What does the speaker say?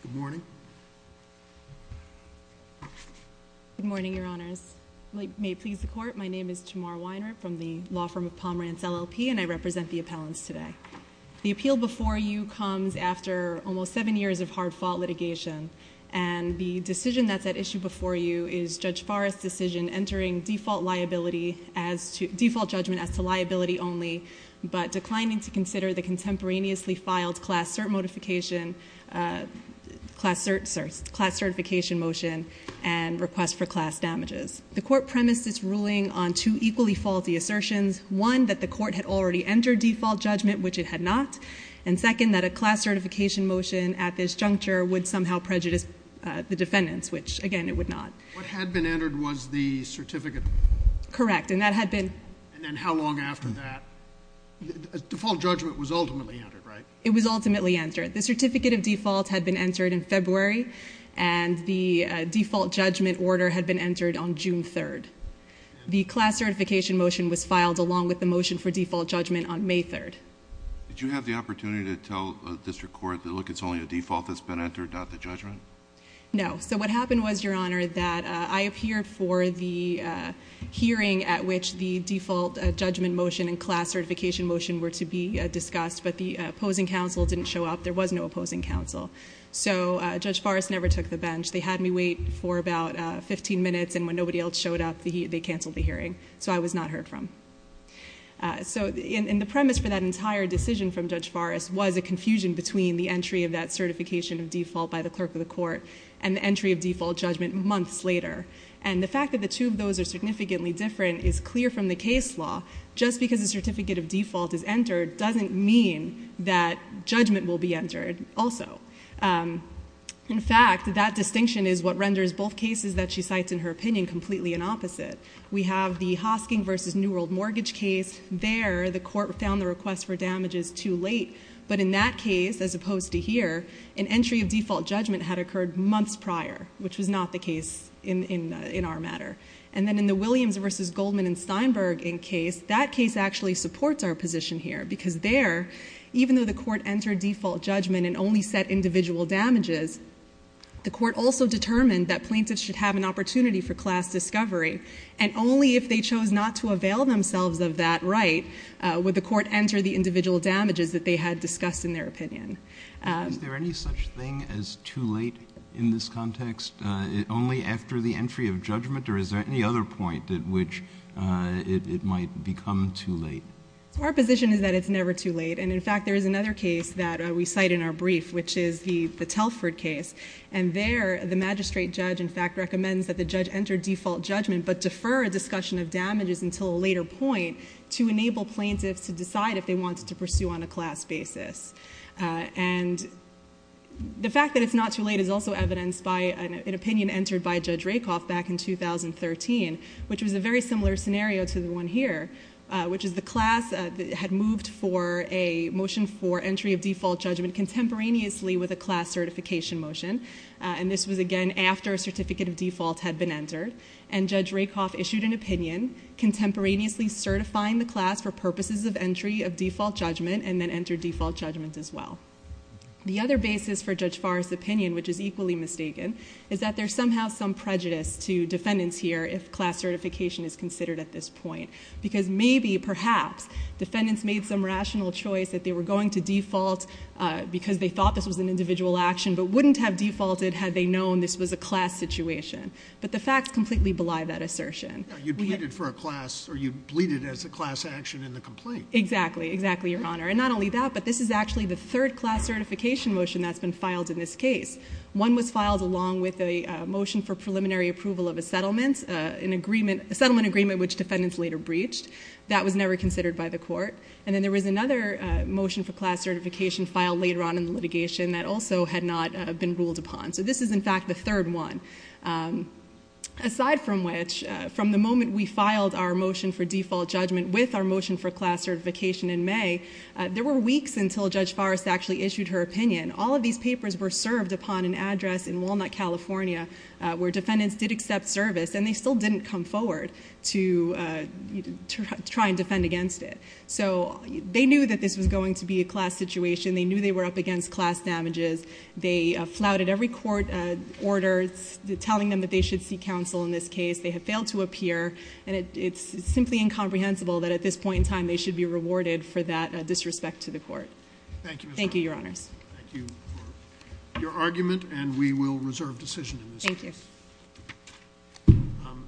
Good morning. Good morning, your honors. May it please the court, my name is Jamar Weiner from the law firm of Pomerantz LLP and I represent the appellants today. The appeal before you comes after almost seven years of hard-fought litigation and the decision that's at issue before you is Judge Farr's decision entering default liability as to default judgment as to liability only but declining to consider the contemporaneously filed class cert notification class certification motion and request for class damages. The court premised its ruling on two equally faulty assertions. One, that the court had already entered default judgment, which it had not, and second that a class certification motion at this juncture would somehow prejudice the defendants, which again it would not. What had been entered was the certificate? Correct, and that had been... And then how long after that? Default judgment was ultimately entered, right? It was ultimately entered. The certificate of default had been entered in February and the default judgment order had been entered on June 3rd. The class certification motion was filed along with the motion for default judgment on May 3rd. Did you have the opportunity to tell a district court that look it's only a default that's been entered, not the judgment? No. So what happened was, your honor, that I appeared for the hearing at which the default judgment motion and class certification motion were to be discussed, but the opposing counsel didn't show up. There was no opposing counsel. So Judge Farris never took the bench. They had me wait for about 15 minutes and when nobody else showed up, they canceled the hearing. So I was not heard from. So in the premise for that entire decision from Judge Farris was a confusion between the entry of that certification of default by the clerk of the court and the entry of default judgment months later. And the fact that the two of those are just because a certificate of default is entered doesn't mean that judgment will be entered also. In fact, that distinction is what renders both cases that she cites in her opinion completely an opposite. We have the Hosking versus New World Mortgage case. There, the court found the request for damages too late, but in that case, as opposed to here, an entry of default judgment had occurred months prior, which was not the case in our matter. And then in the Williams versus Goldman and Steinberg case, that case actually supports our position here, because there, even though the court entered default judgment and only set individual damages, the court also determined that plaintiffs should have an opportunity for class discovery. And only if they chose not to avail themselves of that right, would the court enter the individual damages that they had discussed in their opinion. Is there any such thing as too late in this context? Only after the entry of which it might become too late. Our position is that it's never too late. And in fact, there is another case that we cite in our brief, which is the Telford case. And there, the magistrate judge, in fact, recommends that the judge enter default judgment but defer a discussion of damages until a later point to enable plaintiffs to decide if they wanted to pursue on a class basis. And the fact that it's not too late is also evidenced by an opinion entered by Judge Rakoff back in 2013, which was a very similar scenario to the one here, which is the class had moved for a motion for entry of default judgment contemporaneously with a class certification motion. And this was, again, after a certificate of default had been entered. And Judge Rakoff issued an opinion contemporaneously certifying the class for purposes of entry of default judgment and then entered default judgment as well. The other basis for Judge Farr's opinion, which is equally mistaken, is that there's somehow some prejudice to defendants here if class certification is considered at this point. Because maybe, perhaps, defendants made some rational choice that they were going to default because they thought this was an individual action, but wouldn't have defaulted had they known this was a class situation. But the facts completely belie that assertion. You'd plead it for a class, or you'd plead it as a class action in the complaint. Exactly. Exactly, Your Honor. And not only that, but this is actually the third class certification motion that's been filed in this case. One was filed along with a motion for preliminary approval of a settlement, a settlement agreement which defendants later breached. That was never considered by the court. And then there was another motion for class certification filed later on in the litigation that also had not been ruled upon. So this is, in fact, the third one. Aside from which, from the moment we filed our motion for default judgment with our motion for class certification in May, there were weeks until Judge Farr's actually issued her opinion. All of these papers were served upon an attorney in California where defendants did accept service, and they still didn't come forward to try and defend against it. So they knew that this was going to be a class situation. They knew they were up against class damages. They flouted every court order telling them that they should seek counsel in this case. They have failed to appear, and it's simply incomprehensible that at this point in time they should be rewarded for that disrespect to the court. Thank you, Your Honors. Thank you for your argument, and we will reserve decision in this case. Thank you.